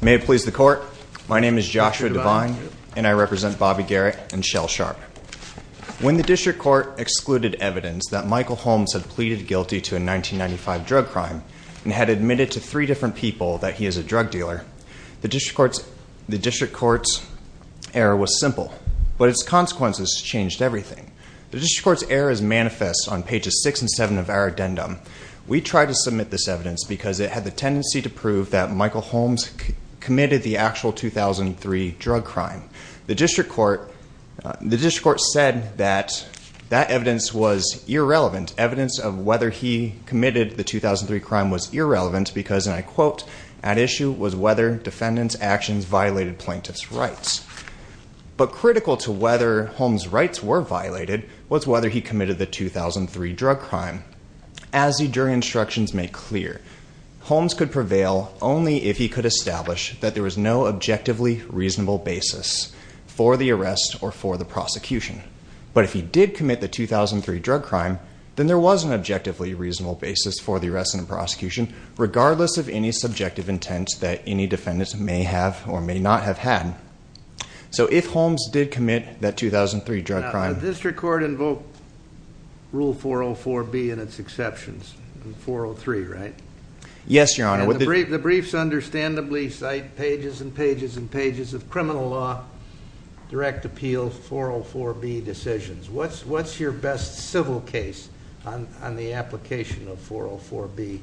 May it please the court, my name is Joshua Devine and I represent Bobby Garrett and Shell Sharp. When the District Court excluded evidence that Michael Holmes had pleaded guilty to a 1995 drug crime and had admitted to three different people that he is a drug dealer, the District Court's error was simple, but its consequences changed everything. The District Court's error is manifest on pages 6 and 7 of our addendum. We tried to submit this evidence because it had the tendency to prove that Michael Holmes committed the actual 2003 drug crime. The District Court said that that evidence was irrelevant. Evidence of whether he committed the 2003 crime was irrelevant because, and I quote, at issue was whether defendants' actions violated plaintiff's rights. But critical to whether Holmes' rights were violated was whether he committed the 2003 drug crime. As the jury instructions make clear, Holmes could prevail only if he could establish that there was no objectively reasonable basis for the arrest or for the prosecution. But if he did commit the 2003 drug crime, then there was an objectively reasonable basis for the arrest and prosecution, regardless of any subjective intent that any defendants may have or may not have had. So if Holmes did commit that 2003 drug crime... Now the District Court invoked Rule 404B and its exceptions. 403, right? Yes, Your Honor. The briefs understandably cite pages and pages and pages of criminal law, direct appeal, 404B decisions. What's your best civil case on the application of 404B?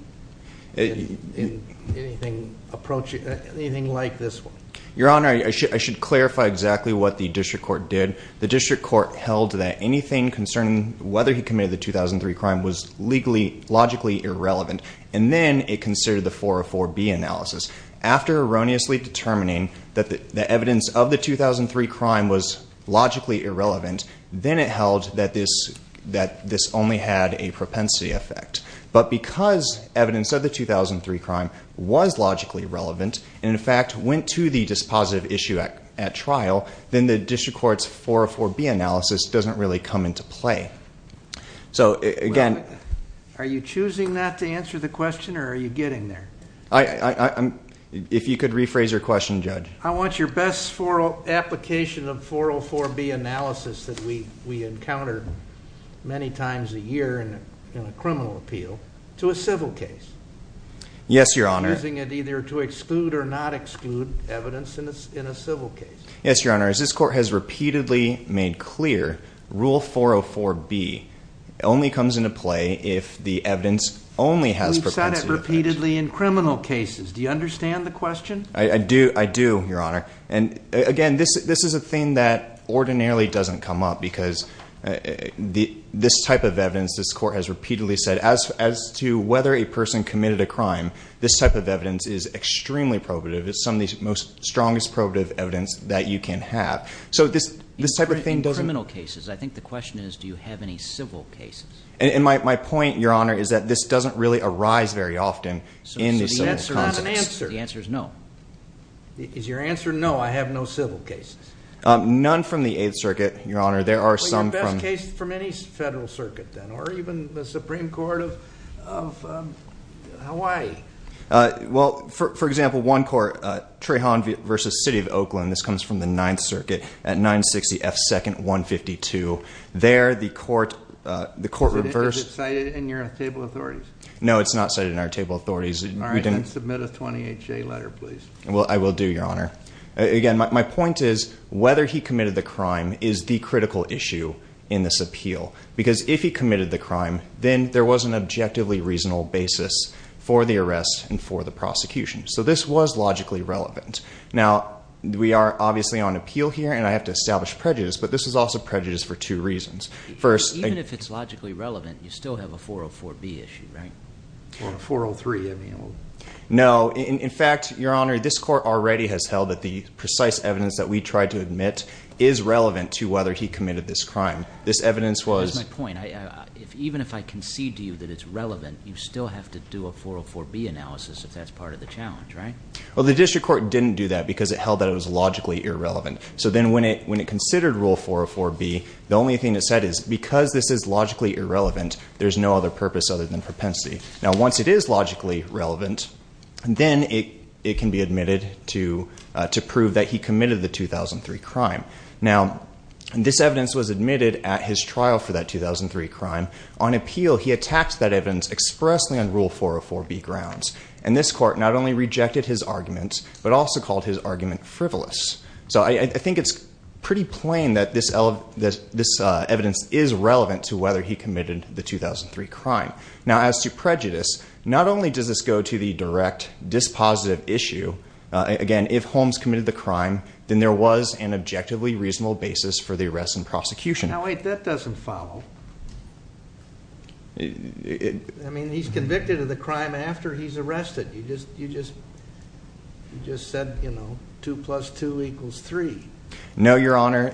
Anything like this one? Your Honor, I should clarify exactly what the District Court did. The District Court held that anything concerning whether he committed the 2003 crime was legally, logically irrelevant. And then it considered the 404B analysis. After erroneously determining that the evidence of the 2003 crime was logically irrelevant, then it held that this only had a propensity effect. But because evidence of the 2003 crime was logically relevant and, in fact, went to the dispositive issue at trial, then the District Court's 404B analysis doesn't really come into play. So, again... Are you choosing not to answer the question or are you getting there? If you could rephrase your question, Judge. I want your best application of 404B analysis that we encounter many times a year in a criminal appeal to a civil case. Yes, Your Honor. Using it either to exclude or not exclude evidence in a civil case. Yes, Your Honor. As this Court has repeatedly made clear, Rule 404B only comes into play if the evidence only has propensity effects. We've said it repeatedly in criminal cases. Do you understand the question? I do, Your Honor. And, again, this is a thing that ordinarily doesn't come up because this type of evidence, this Court has repeatedly said, as to whether a person committed a crime, this type of evidence is extremely probative. It's some of the strongest probative evidence that you can have. So, this type of thing doesn't... In criminal cases, I think the question is, do you have any civil cases? And my point, Your Honor, is that this doesn't really arise very often in the civil cases. So, the answer is no. Is your answer no, I have no civil cases? None from the Eighth Circuit, Your Honor. Well, your best case is from any federal circuit, then, or even the Supreme Court of Hawaii. Well, for example, one court, Trahan v. City of Oakland, this comes from the Ninth Circuit, at 960 F. 2nd, 152. There, the court reversed... Is it cited in your table of authorities? No, it's not cited in our table of authorities. All right, then submit a 20HA letter, please. I will do, Your Honor. Again, my point is, whether he committed the crime is the critical issue in this appeal. Because if he committed the crime, then there was an objectively reasonable basis for the arrest and for the prosecution. So, this was logically relevant. Now, we are obviously on appeal here, and I have to establish prejudice, but this is also prejudice for two reasons. First... Even if it's logically relevant, you still have a 404B issue, right? Or a 403, I mean. No, in fact, Your Honor, this court already has held that the precise evidence that we tried to admit is relevant to whether he committed this crime. This evidence was... Here's my point. Even if I concede to you that it's relevant, you still have to do a 404B analysis if that's part of the challenge, right? Well, the district court didn't do that because it held that it was logically irrelevant. So then, when it considered Rule 404B, the only thing it said is, because this is logically irrelevant, there's no other purpose other than propensity. Now, once it is logically relevant, then it can be admitted to prove that he committed the 2003 crime. Now, this evidence was admitted at his trial for that 2003 crime. On appeal, he attacked that evidence expressly on Rule 404B grounds. And this court not only rejected his argument, but also called his argument frivolous. So, I think it's pretty plain that this evidence is relevant to whether he committed the 2003 crime. Now, as to prejudice, not only does this go to the direct dispositive issue. Again, if Holmes committed the crime, then there was an objectively reasonable basis for the arrest and prosecution. Now, wait. That doesn't follow. I mean, he's convicted of the crime after he's arrested. You just said, you know, 2 plus 2 equals 3. No, Your Honor.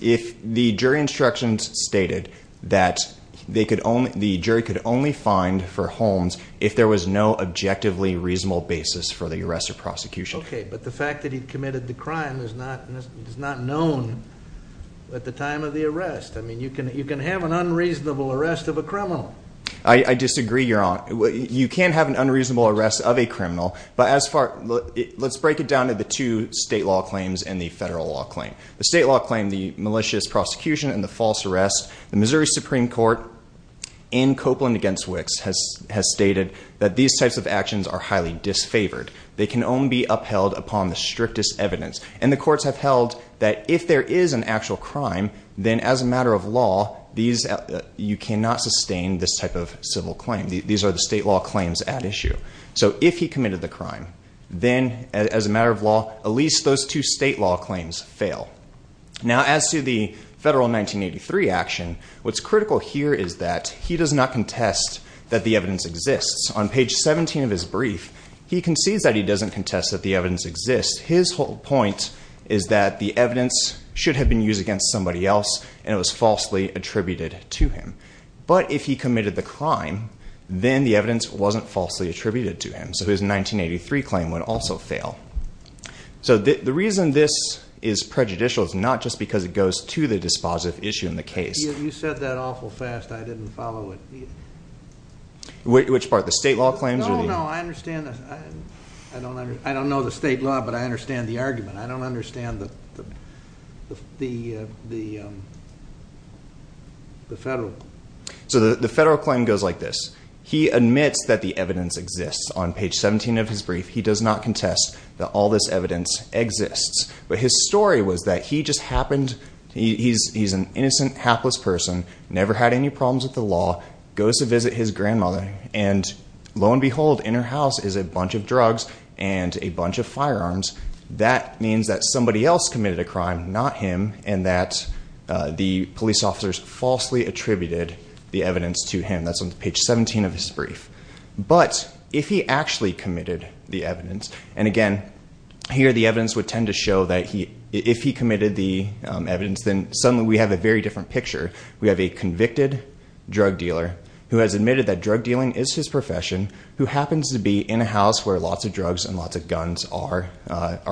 The jury instructions stated that the jury could only find for Holmes if there was no objectively reasonable basis for the arrest or prosecution. Okay, but the fact that he committed the crime is not known at the time of the arrest. I mean, you can have an unreasonable arrest of a criminal. I disagree, Your Honor. You can have an unreasonable arrest of a criminal. But let's break it down to the two state law claims and the federal law claim. The state law claim, the malicious prosecution and the false arrest. The Missouri Supreme Court in Copeland v. Wicks has stated that these types of actions are highly disfavored. They can only be upheld upon the strictest evidence. And the courts have held that if there is an actual crime, then as a matter of law, you cannot sustain this type of civil claim. These are the state law claims at issue. So if he committed the crime, then as a matter of law, at least those two state law claims fail. Now, as to the federal 1983 action, what's critical here is that he does not contest that the evidence exists. On page 17 of his brief, he concedes that he doesn't contest that the evidence exists. His whole point is that the evidence should have been used against somebody else and it was falsely attributed to him. But if he committed the crime, then the evidence wasn't falsely attributed to him. So his 1983 claim would also fail. So the reason this is prejudicial is not just because it goes to the dispositive issue in the case. You said that awful fast. I didn't follow it. Which part? The state law claims? No, no, I understand. I don't know the state law, but I understand the argument. I don't understand the federal. So the federal claim goes like this. He admits that the evidence exists. On page 17 of his brief, he does not contest that all this evidence exists. But his story was that he just happened, he's an innocent, hapless person, never had any problems with the law, goes to visit his grandmother, and lo and behold, in her house is a bunch of drugs and a bunch of firearms. That means that somebody else committed a crime, not him, and that the police officers falsely attributed the evidence to him. That's on page 17 of his brief. But if he actually committed the evidence, and again, here the evidence would tend to show that if he committed the evidence, then suddenly we have a very different picture. We have a convicted drug dealer who has admitted that drug dealing is his profession, who happens to be in a house where lots of drugs and lots of guns are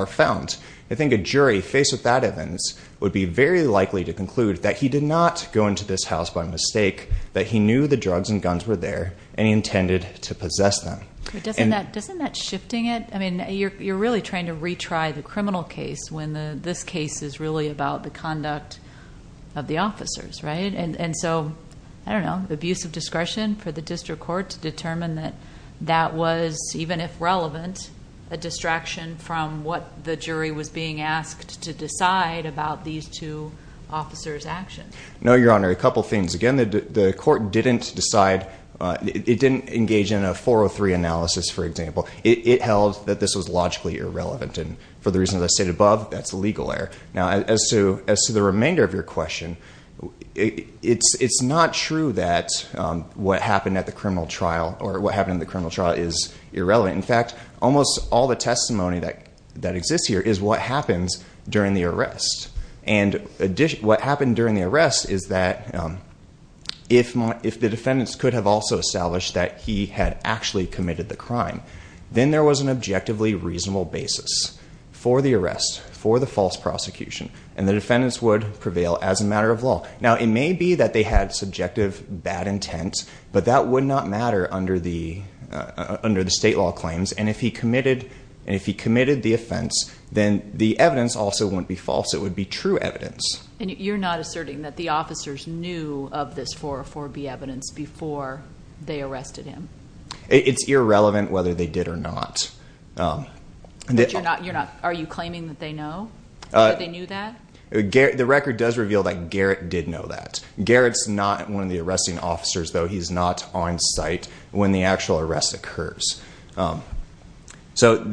found. I think a jury faced with that evidence would be very likely to conclude that he did not go into this house by mistake, that he knew the drugs and guns were there, and he intended to possess them. But doesn't that shifting it? I mean, you're really trying to retry the criminal case when this case is really about the conduct of the officers, right? And so, I don't know, abuse of discretion for the district court to determine that that was, even if relevant, a distraction from what the jury was being asked to decide about these two officers' actions. No, Your Honor. A couple things. Again, the court didn't decide. It didn't engage in a 403 analysis, for example. It held that this was logically irrelevant, and for the reasons I stated above, that's legal error. Now, as to the remainder of your question, it's not true that what happened at the criminal trial is irrelevant. In fact, almost all the testimony that exists here is what happens during the arrest. And what happened during the arrest is that if the defendants could have also established that he had actually committed the crime, then there was an objectively reasonable basis for the arrest, for the false prosecution, and the defendants would prevail as a matter of law. Now, it may be that they had subjective bad intent, but that would not matter under the state law claims. And if he committed the offense, then the evidence also wouldn't be false. It would be true evidence. And you're not asserting that the officers knew of this 404B evidence before they arrested him? It's irrelevant whether they did or not. But are you claiming that they knew that? The record does reveal that Garrett did know that. Garrett's not one of the arresting officers, though. He's not on site when the actual arrest occurs. So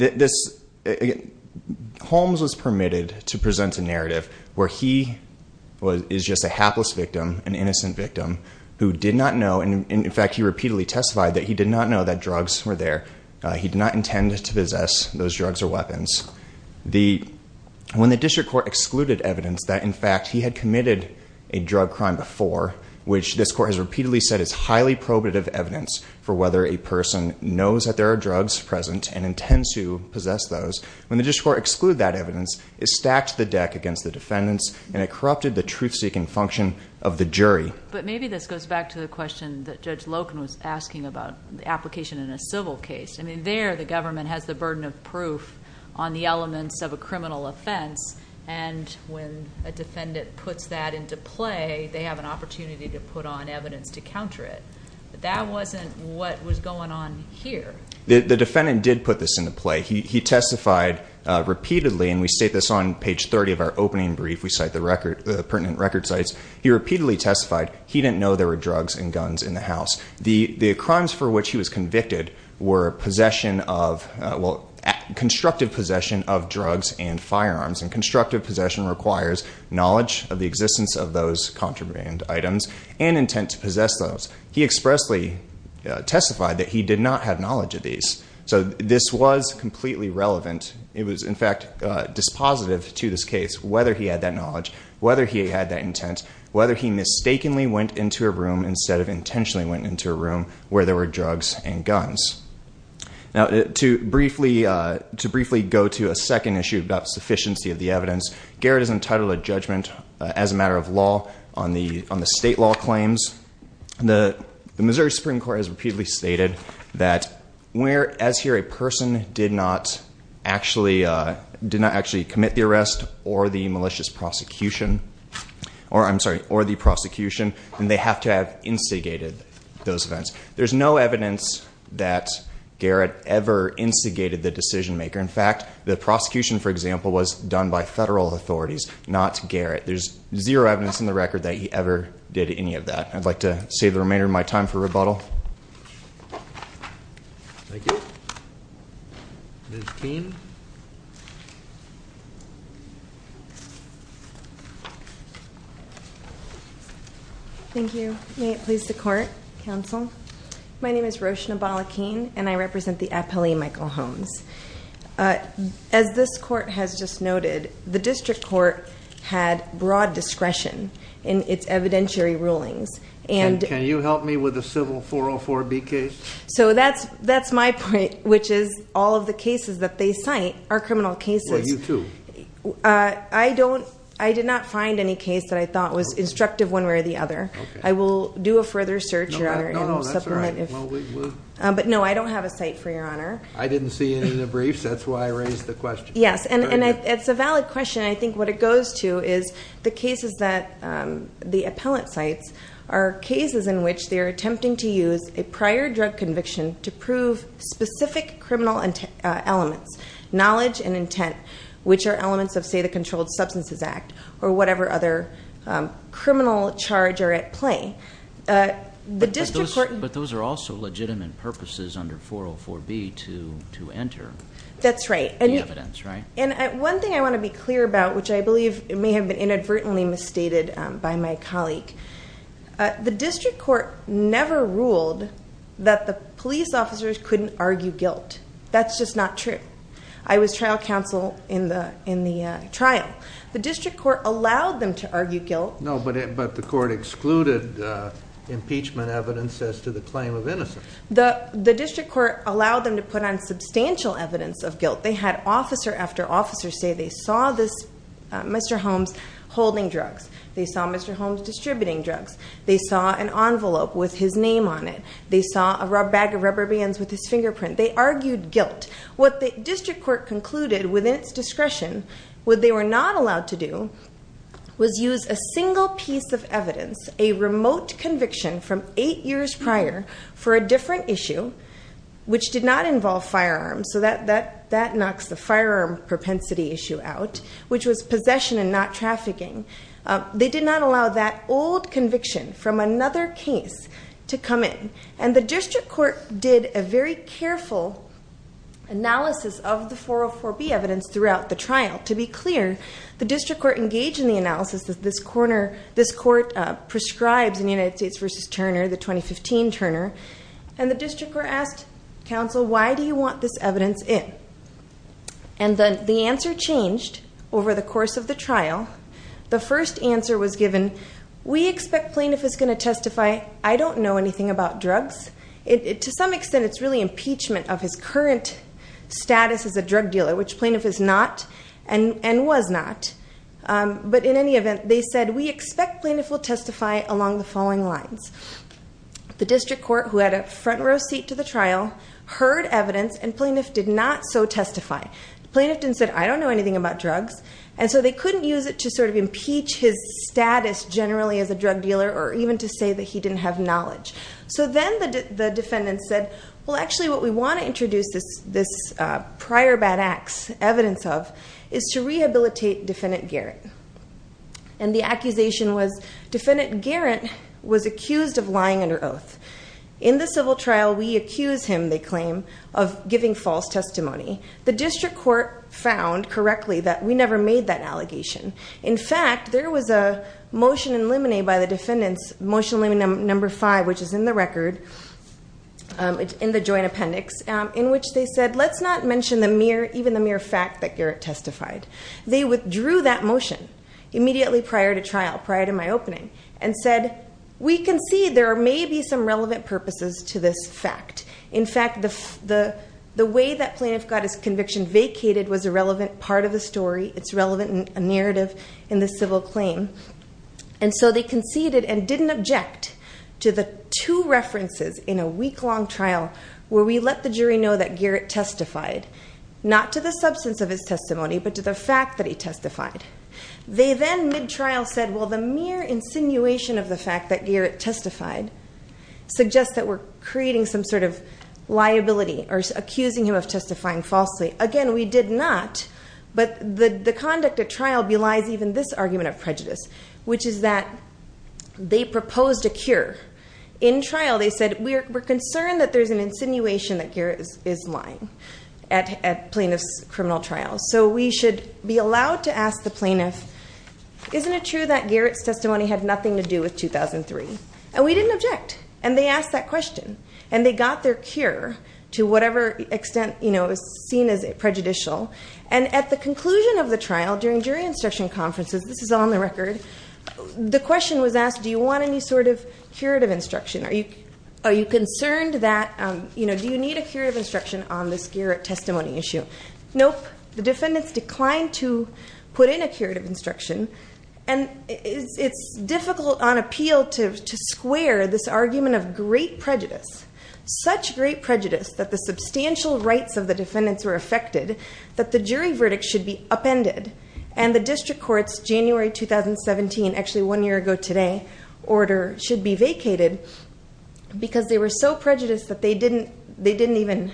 Holmes was permitted to present a narrative where he is just a hapless victim, an innocent victim, who did not know. And, in fact, he repeatedly testified that he did not know that drugs were there. He did not intend to possess those drugs or weapons. When the district court excluded evidence that, in fact, he had committed a drug crime before, which this court has repeatedly said is highly probative evidence for whether a person knows that there are drugs present and intends to possess those, when the district court excluded that evidence, it stacked the deck against the defendants and it corrupted the truth-seeking function of the jury. But maybe this goes back to the question that Judge Loken was asking about the application in a civil case. I mean, there the government has the burden of proof on the elements of a criminal offense, and when a defendant puts that into play, they have an opportunity to put on evidence to counter it. But that wasn't what was going on here. The defendant did put this into play. He testified repeatedly, and we state this on page 30 of our opening brief. We cite the pertinent record sites. He repeatedly testified he didn't know there were drugs and guns in the house. The crimes for which he was convicted were possession of, well, constructive possession of drugs and firearms, and constructive possession requires knowledge of the existence of those contraband items and intent to possess those. He expressly testified that he did not have knowledge of these. So this was completely relevant. It was, in fact, dispositive to this case whether he had that knowledge, whether he had that intent, whether he mistakenly went into a room instead of intentionally went into a room where there were drugs and guns. Now, to briefly go to a second issue about sufficiency of the evidence, Garrett has entitled a judgment as a matter of law on the state law claims. The Missouri Supreme Court has repeatedly stated that where, as here, a person did not actually commit the arrest or the malicious prosecution, or I'm sorry, or the prosecution, then they have to have instigated those events. There's no evidence that Garrett ever instigated the decision maker. In fact, the prosecution, for example, was done by federal authorities, not Garrett. There's zero evidence in the record that he ever did any of that. I'd like to save the remainder of my time for rebuttal. Thank you. Ms. Keene. Thank you. May it please the court, counsel. My name is Roshna Bala-Keene, and I represent the appellee, Michael Holmes. As this court has just noted, the district court had broad discretion in its evidentiary rulings. And can you help me with a civil 404B case? So that's my point, which is all of the cases that they cite are criminal cases. Well, you too. I did not find any case that I thought was instructive one way or the other. I will do a further search, Your Honor, and supplement. No, that's all right. But, no, I don't have a cite for Your Honor. I didn't see any in the briefs. That's why I raised the question. Yes, and it's a valid question. I think what it goes to is the cases that the appellant cites are cases in which they are attempting to use a prior drug conviction to prove specific criminal elements, knowledge and intent, which are elements of, say, the Controlled Substances Act or whatever other criminal charge are at play. But those are also legitimate purposes under 404B to enter the evidence, right? That's right. And one thing I want to be clear about, which I believe may have been inadvertently misstated by my colleague, the district court never ruled that the police officers couldn't argue guilt. That's just not true. I was trial counsel in the trial. The district court allowed them to argue guilt. No, but the court excluded impeachment evidence as to the claim of innocence. The district court allowed them to put on substantial evidence of guilt. They had officer after officer say they saw Mr. Holmes holding drugs. They saw Mr. Holmes distributing drugs. They saw an envelope with his name on it. They saw a bag of rubber bands with his fingerprint. They argued guilt. What the district court concluded within its discretion, what they were not allowed to do was use a single piece of evidence, a remote conviction from eight years prior for a different issue, which did not involve firearms. So that knocks the firearm propensity issue out, which was possession and not trafficking. They did not allow that old conviction from another case to come in. And the district court did a very careful analysis of the 404B evidence throughout the trial. To be clear, the district court engaged in the analysis that this court prescribes in United States v. Turner, the 2015 Turner. And the district court asked counsel, why do you want this evidence in? And the answer changed over the course of the trial. The first answer was given, we expect plaintiff is going to testify, I don't know anything about drugs. To some extent, it's really impeachment of his current status as a drug dealer, which plaintiff is not and was not. But in any event, they said, we expect plaintiff will testify along the following lines. The district court, who had a front row seat to the trial, heard evidence and plaintiff did not so testify. The plaintiff didn't say, I don't know anything about drugs. And so they couldn't use it to sort of impeach his status generally as a drug dealer or even to say that he didn't have knowledge. So then the defendant said, well, actually, what we want to introduce this prior bad acts evidence of is to rehabilitate defendant Garrett. And the accusation was defendant Garrett was accused of lying under oath. In the civil trial, we accuse him, they claim, of giving false testimony. The district court found correctly that we never made that allegation. In fact, there was a motion in limine by the defendants, motion limine number five, which is in the record, in the joint appendix, in which they said, let's not mention even the mere fact that Garrett testified. They withdrew that motion immediately prior to trial, prior to my opening, and said, we can see there may be some relevant purposes to this fact. In fact, the way that plaintiff got his conviction vacated was a relevant part of the story. It's relevant in a narrative in the civil claim. And so they conceded and didn't object to the two references in a week-long trial where we let the jury know that Garrett testified, not to the substance of his testimony, but to the fact that he testified. They then, mid-trial, said, well, the mere insinuation of the fact that Garrett testified suggests that we're creating some sort of liability or accusing him of testifying falsely. Again, we did not, but the conduct at trial belies even this argument of prejudice, which is that they proposed a cure. In trial, they said, we're concerned that there's an insinuation that Garrett is lying at plaintiff's criminal trial. So we should be allowed to ask the plaintiff, isn't it true that Garrett's testimony had nothing to do with 2003? And we didn't object. And they asked that question. And they got their cure, to whatever extent, you know, is seen as prejudicial. And at the conclusion of the trial, during jury instruction conferences, this is on the record, the question was asked, do you want any sort of curative instruction? Are you concerned that, you know, do you need a curative instruction on this Garrett testimony issue? Nope. The defendants declined to put in a curative instruction. And it's difficult on appeal to square this argument of great prejudice, such great prejudice that the substantial rights of the defendants were affected that the jury verdict should be upended and the district court's January 2017, actually one year ago today, order should be vacated because they were so prejudiced that they didn't even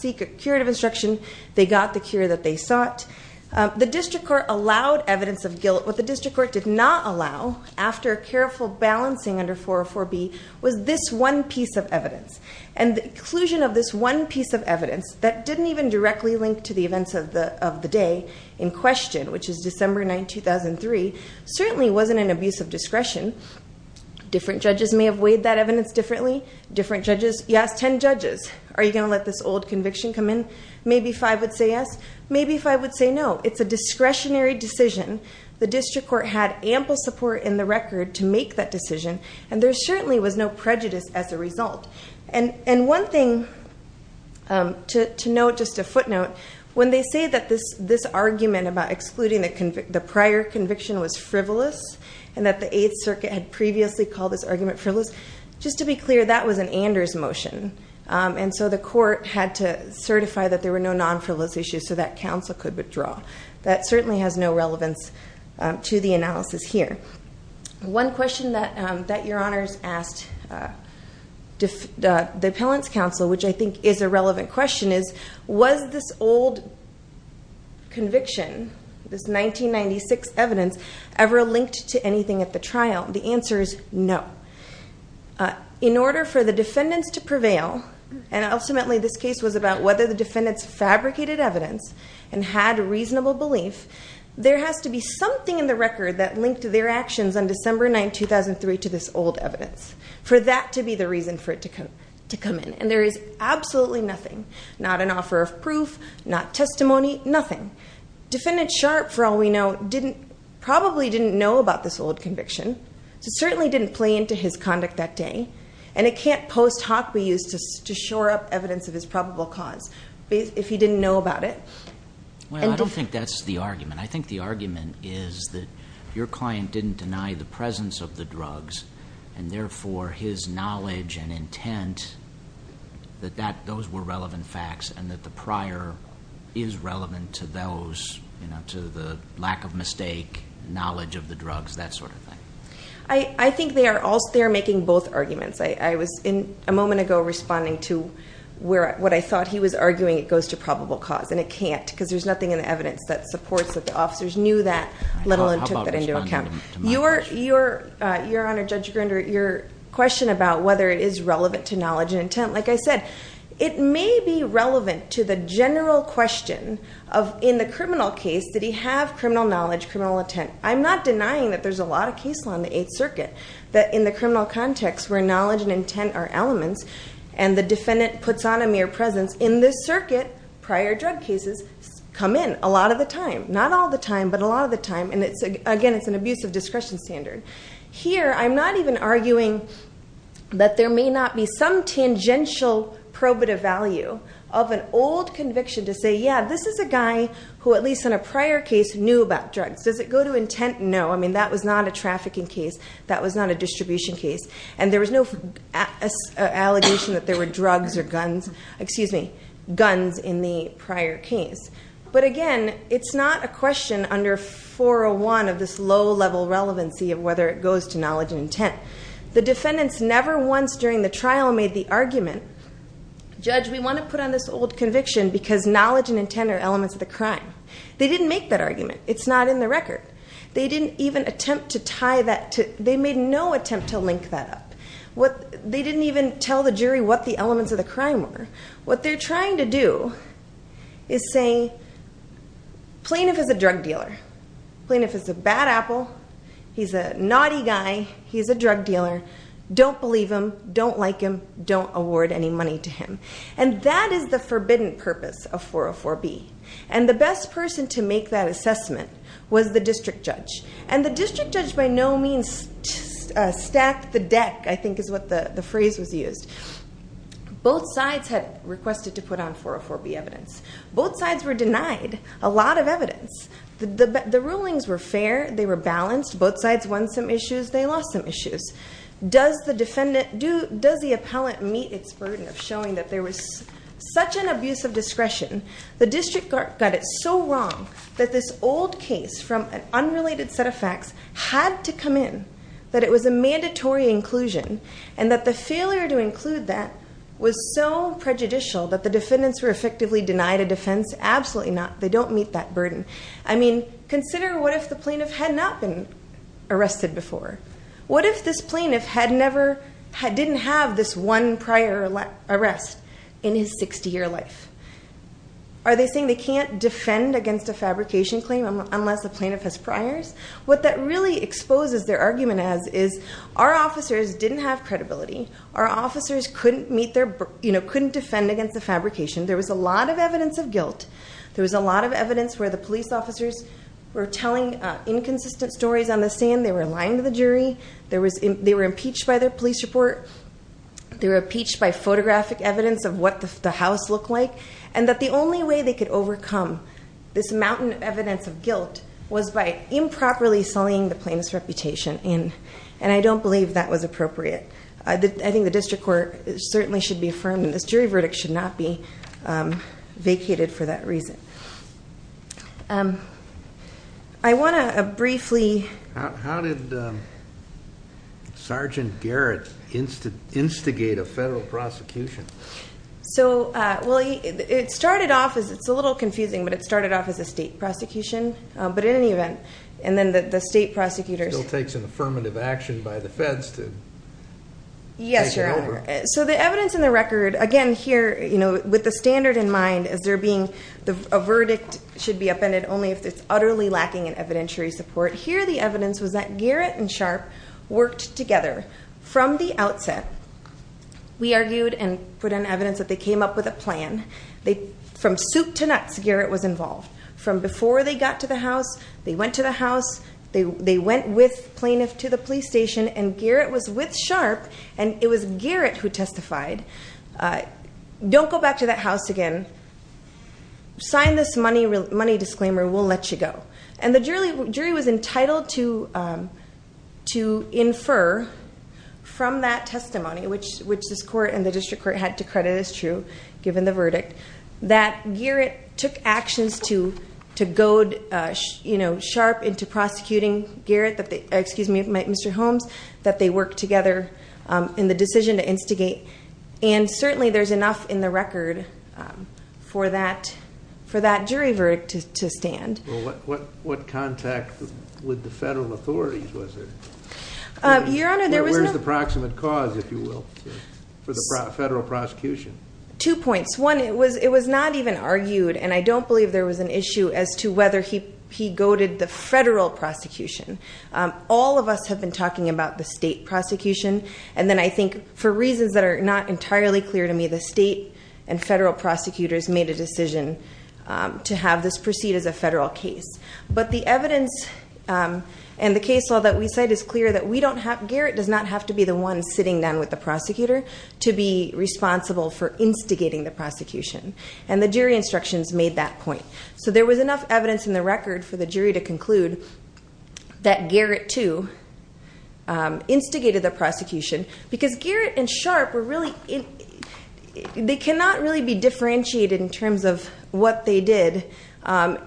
seek a curative instruction. They got the cure that they sought. The district court allowed evidence of guilt. What the district court did not allow, after careful balancing under 404B, was this one piece of evidence. And the inclusion of this one piece of evidence that didn't even directly link to the events of the day in question, which is December 9, 2003, certainly wasn't an abuse of discretion. Different judges may have weighed that evidence differently. Different judges, you ask 10 judges, are you going to let this old conviction come in? Maybe five would say yes. Maybe five would say no. It's a discretionary decision. The district court had ample support in the record to make that decision, and there certainly was no prejudice as a result. And one thing to note, just a footnote, when they say that this argument about excluding the prior conviction was frivolous and that the Eighth Circuit had previously called this argument frivolous, just to be clear, that was an Anders motion, and so the court had to certify that there were no non-frivolous issues so that counsel could withdraw. That certainly has no relevance to the analysis here. One question that Your Honors asked the Appellant's Counsel, which I think is a relevant question, is was this old conviction, this 1996 evidence, ever linked to anything at the trial? The answer is no. In order for the defendants to prevail, and ultimately this case was about whether the defendants fabricated evidence and had reasonable belief, there has to be something in the record that linked their actions on December 9, 2003, to this old evidence, for that to be the reason for it to come in. And there is absolutely nothing, not an offer of proof, not testimony, nothing. Defendant Sharp, for all we know, probably didn't know about this old conviction. It certainly didn't play into his conduct that day, and it can't post hoc be used to shore up evidence of his probable cause if he didn't know about it. Well, I don't think that's the argument. I think the argument is that your client didn't deny the presence of the drugs, and therefore his knowledge and intent, that those were relevant facts, and that the prior is relevant to those, to the lack of mistake, knowledge of the drugs, that sort of thing. I think they are making both arguments. I was, a moment ago, responding to what I thought he was arguing, it goes to probable cause, and it can't, because there's nothing in the evidence that supports that the officers knew that, let alone took that into account. Your Honor, Judge Grinder, your question about whether it is relevant to knowledge and intent, like I said, it may be relevant to the general question of, in the criminal case, did he have criminal knowledge, criminal intent. I'm not denying that there's a lot of case law in the Eighth Circuit, that in the criminal context where knowledge and intent are elements, and the defendant puts on a mere presence, in this circuit, prior drug cases come in a lot of the time. Not all the time, but a lot of the time, and again, it's an abuse of discretion standard. Here, I'm not even arguing that there may not be some tangential probative value of an old conviction to say, yeah, this is a guy who, at least in a prior case, knew about drugs. Does it go to intent? No. I mean, that was not a trafficking case. That was not a distribution case. And there was no allegation that there were drugs or guns, excuse me, guns in the prior case. But again, it's not a question under 401 of this low-level relevancy of whether it goes to knowledge and intent. The defendants never once during the trial made the argument, judge, we want to put on this old conviction because knowledge and intent are elements of the crime. They didn't make that argument. It's not in the record. They didn't even attempt to tie that to, they made no attempt to link that up. They didn't even tell the jury what the elements of the crime were. What they're trying to do is say plaintiff is a drug dealer. Plaintiff is a bad apple. He's a naughty guy. He's a drug dealer. Don't believe him. Don't like him. Don't award any money to him. And that is the forbidden purpose of 404B. And the best person to make that assessment was the district judge. And the district judge by no means stacked the deck, I think is what the phrase was used. Both sides had requested to put on 404B evidence. Both sides were denied a lot of evidence. The rulings were fair. They were balanced. Both sides won some issues. They lost some issues. Does the defendant, does the appellant meet its burden of showing that there was such an abuse of discretion? The district got it so wrong that this old case from an unrelated set of facts had to come in, that it was a mandatory inclusion, and that the failure to include that was so prejudicial that the defendants were effectively denied a defense? Absolutely not. They don't meet that burden. I mean, consider what if the plaintiff had not been arrested before? What if this plaintiff had never, didn't have this one prior arrest in his 60-year life? Are they saying they can't defend against a fabrication claim unless the plaintiff has priors? What that really exposes their argument as is our officers didn't have credibility. Our officers couldn't meet their, couldn't defend against the fabrication. There was a lot of evidence of guilt. There was a lot of evidence where the police officers were telling inconsistent stories on the stand. They were lying to the jury. They were impeached by their police report. They were impeached by photographic evidence of what the house looked like, and that the only way they could overcome this mountain of evidence of guilt was by improperly sullying the plaintiff's reputation, and I don't believe that was appropriate. I think the district court certainly should be affirmed, and this jury verdict should not be vacated for that reason. I want to briefly- How did Sergeant Garrett instigate a federal prosecution? So, well, it started off as, it's a little confusing, but it started off as a state prosecution, but in any event, and then the state prosecutors- Still takes an affirmative action by the feds to take it over. Yes, sir. So the evidence in the record, again, here, you know, with the standard in mind, is there being a verdict should be upended only if it's utterly lacking in evidentiary support. Here the evidence was that Garrett and Sharp worked together from the outset. We argued and put in evidence that they came up with a plan. From soup to nuts, Garrett was involved. From before they got to the house, they went to the house, they went with plaintiff to the police station, and Garrett was with Sharp, and it was Garrett who testified. Don't go back to that house again. Sign this money disclaimer. We'll let you go. And the jury was entitled to infer from that testimony, which this court and the district court had to credit as true, given the verdict, that Garrett took actions to goad Sharp into prosecuting Garrett, excuse me, Mr. Holmes, that they worked together in the decision to instigate, and certainly there's enough in the record for that jury verdict to stand. Well, what contact with the federal authorities was there? Your Honor, there was no... Where's the proximate cause, if you will, for the federal prosecution? Two points. One, it was not even argued, and I don't believe there was an issue as to whether he goaded the federal prosecution. All of us have been talking about the state prosecution, and then I think for reasons that are not entirely clear to me, the state and federal prosecutors made a decision to have this proceed as a federal case. But the evidence and the case law that we cite is clear that Garrett does not have to be the one sitting down with the prosecutor to be responsible for instigating the prosecution, and the jury instructions made that point. So there was enough evidence in the record for the jury to conclude that Garrett, too, instigated the prosecution, because Garrett and Sharp were really... They cannot really be differentiated in terms of what they did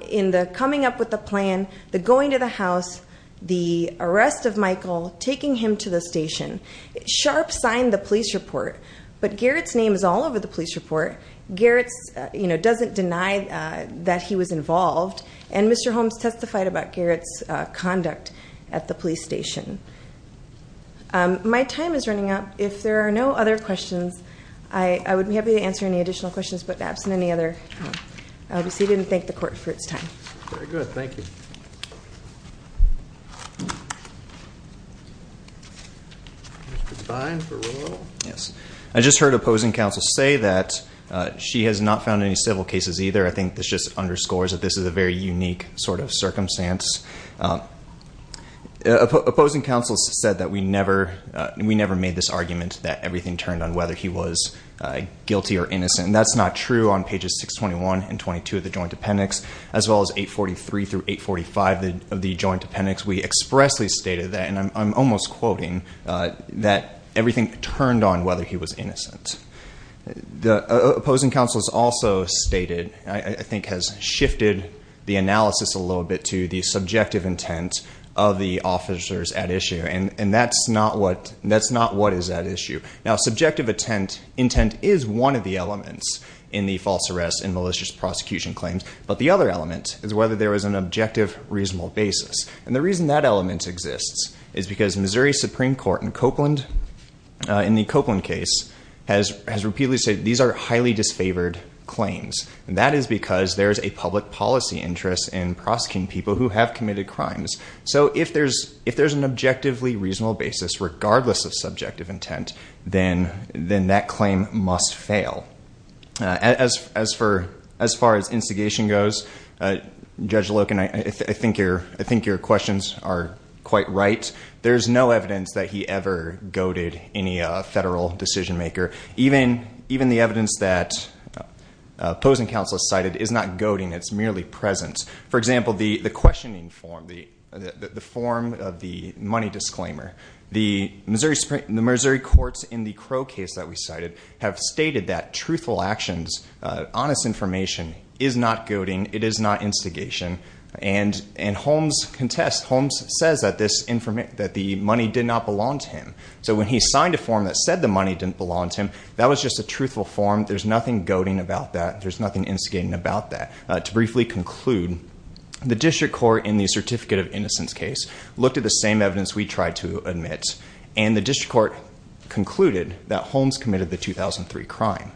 in the coming up with the plan, the going to the house, the arrest of Michael, taking him to the station. Sharp signed the police report, but Garrett's name is all over the police report. Garrett doesn't deny that he was involved, and Mr. Holmes testified about Garrett's conduct at the police station. My time is running up. If there are no other questions, I would be happy to answer any additional questions, but absent any other, I'll be seated and thank the court for its time. Very good. Thank you. Mr. Devine for roll? Yes. I just heard opposing counsel say that she has not found any civil cases either. I think this just underscores that this is a very unique sort of circumstance. Opposing counsel said that we never made this argument that everything turned on whether he was guilty or innocent, and that's not true on pages 621 and 622 of the joint appendix, as well as 843 through 845 of the joint appendix. We expressly stated that, and I'm almost quoting, that everything turned on whether he was innocent. Opposing counsel has also stated, I think has shifted the analysis a little bit to the subjective intent of the officers at issue, and that's not what is at issue. Now, subjective intent is one of the elements in the false arrest and malicious prosecution claims, but the other element is whether there was an objective, reasonable basis, and the reason that element exists is because Missouri Supreme Court in the Copeland case has repeatedly said these are highly disfavored claims, and that is because there is a public policy interest in prosecuting people who have committed crimes. So if there's an objectively reasonable basis, regardless of subjective intent, then that claim must fail. As far as instigation goes, Judge Loken, I think your questions are quite right. There's no evidence that he ever goaded any federal decision maker. Even the evidence that opposing counsel cited is not goading. It's merely present. For example, the questioning form, the form of the money disclaimer, the Missouri courts in the Crow case that we cited have stated that truthful actions, honest information, is not goading. It is not instigation, and Holmes contests. Holmes says that the money did not belong to him. So when he signed a form that said the money didn't belong to him, that was just a truthful form. There's nothing goading about that. There's nothing instigating about that. To briefly conclude, the district court in the certificate of innocence case looked at the same evidence we tried to admit, and the district court concluded that Holmes committed the 2003 crime.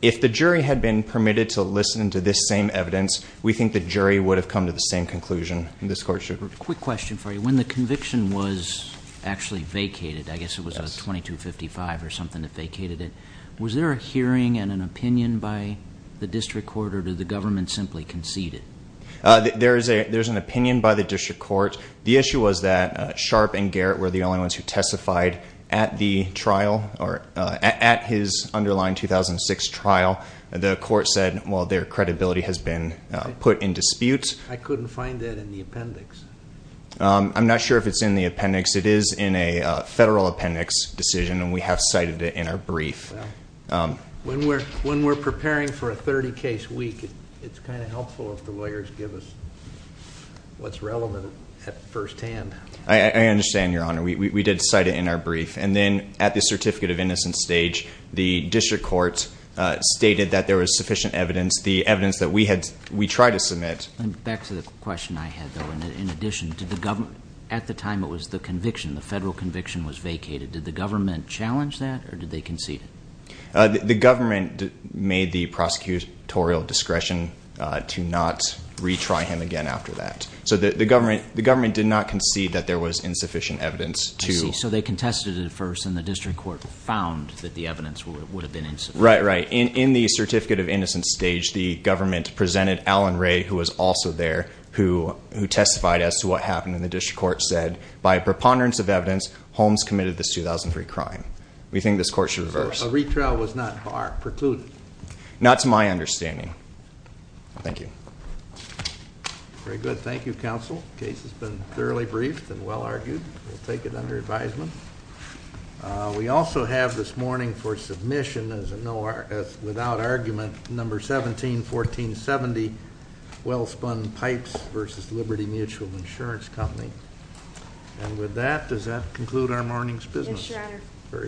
If the jury had been permitted to listen to this same evidence, we think the jury would have come to the same conclusion. This court should- Quick question for you. When the conviction was actually vacated, I guess it was a 2255 or something that vacated it, was there a hearing and an opinion by the district court, or did the government simply concede it? There's an opinion by the district court. The issue was that Sharp and Garrett were the only ones who testified at the trial, or at his underlying 2006 trial. The court said, well, their credibility has been put in dispute. I couldn't find that in the appendix. I'm not sure if it's in the appendix. It is in a federal appendix decision, and we have cited it in our brief. When we're preparing for a 30-case week, it's kind of helpful if the lawyers give us what's relevant at first hand. I understand, Your Honor. We did cite it in our brief. And then at the certificate of innocence stage, the district court stated that there was sufficient evidence. The evidence that we tried to submit- The federal conviction was vacated. Did the government challenge that, or did they concede it? The government made the prosecutorial discretion to not retry him again after that. So the government did not concede that there was insufficient evidence to- I see. So they contested it at first, and the district court found that the evidence would have been insufficient. Right, right. In the certificate of innocence stage, the government presented Alan Ray, who was also there, who testified as to what happened, and the district court said, by a preponderance of evidence, Holmes committed this 2003 crime. We think this court should reverse. So a retrial was not precluded? Not to my understanding. Thank you. Very good. Thank you, counsel. The case has been thoroughly briefed and well argued. We'll take it under advisement. We also have this morning for submission, without argument, number 171470, Wellspun Pipes versus Liberty Mutual Insurance Company. And with that, does that conclude our morning's business? Very good.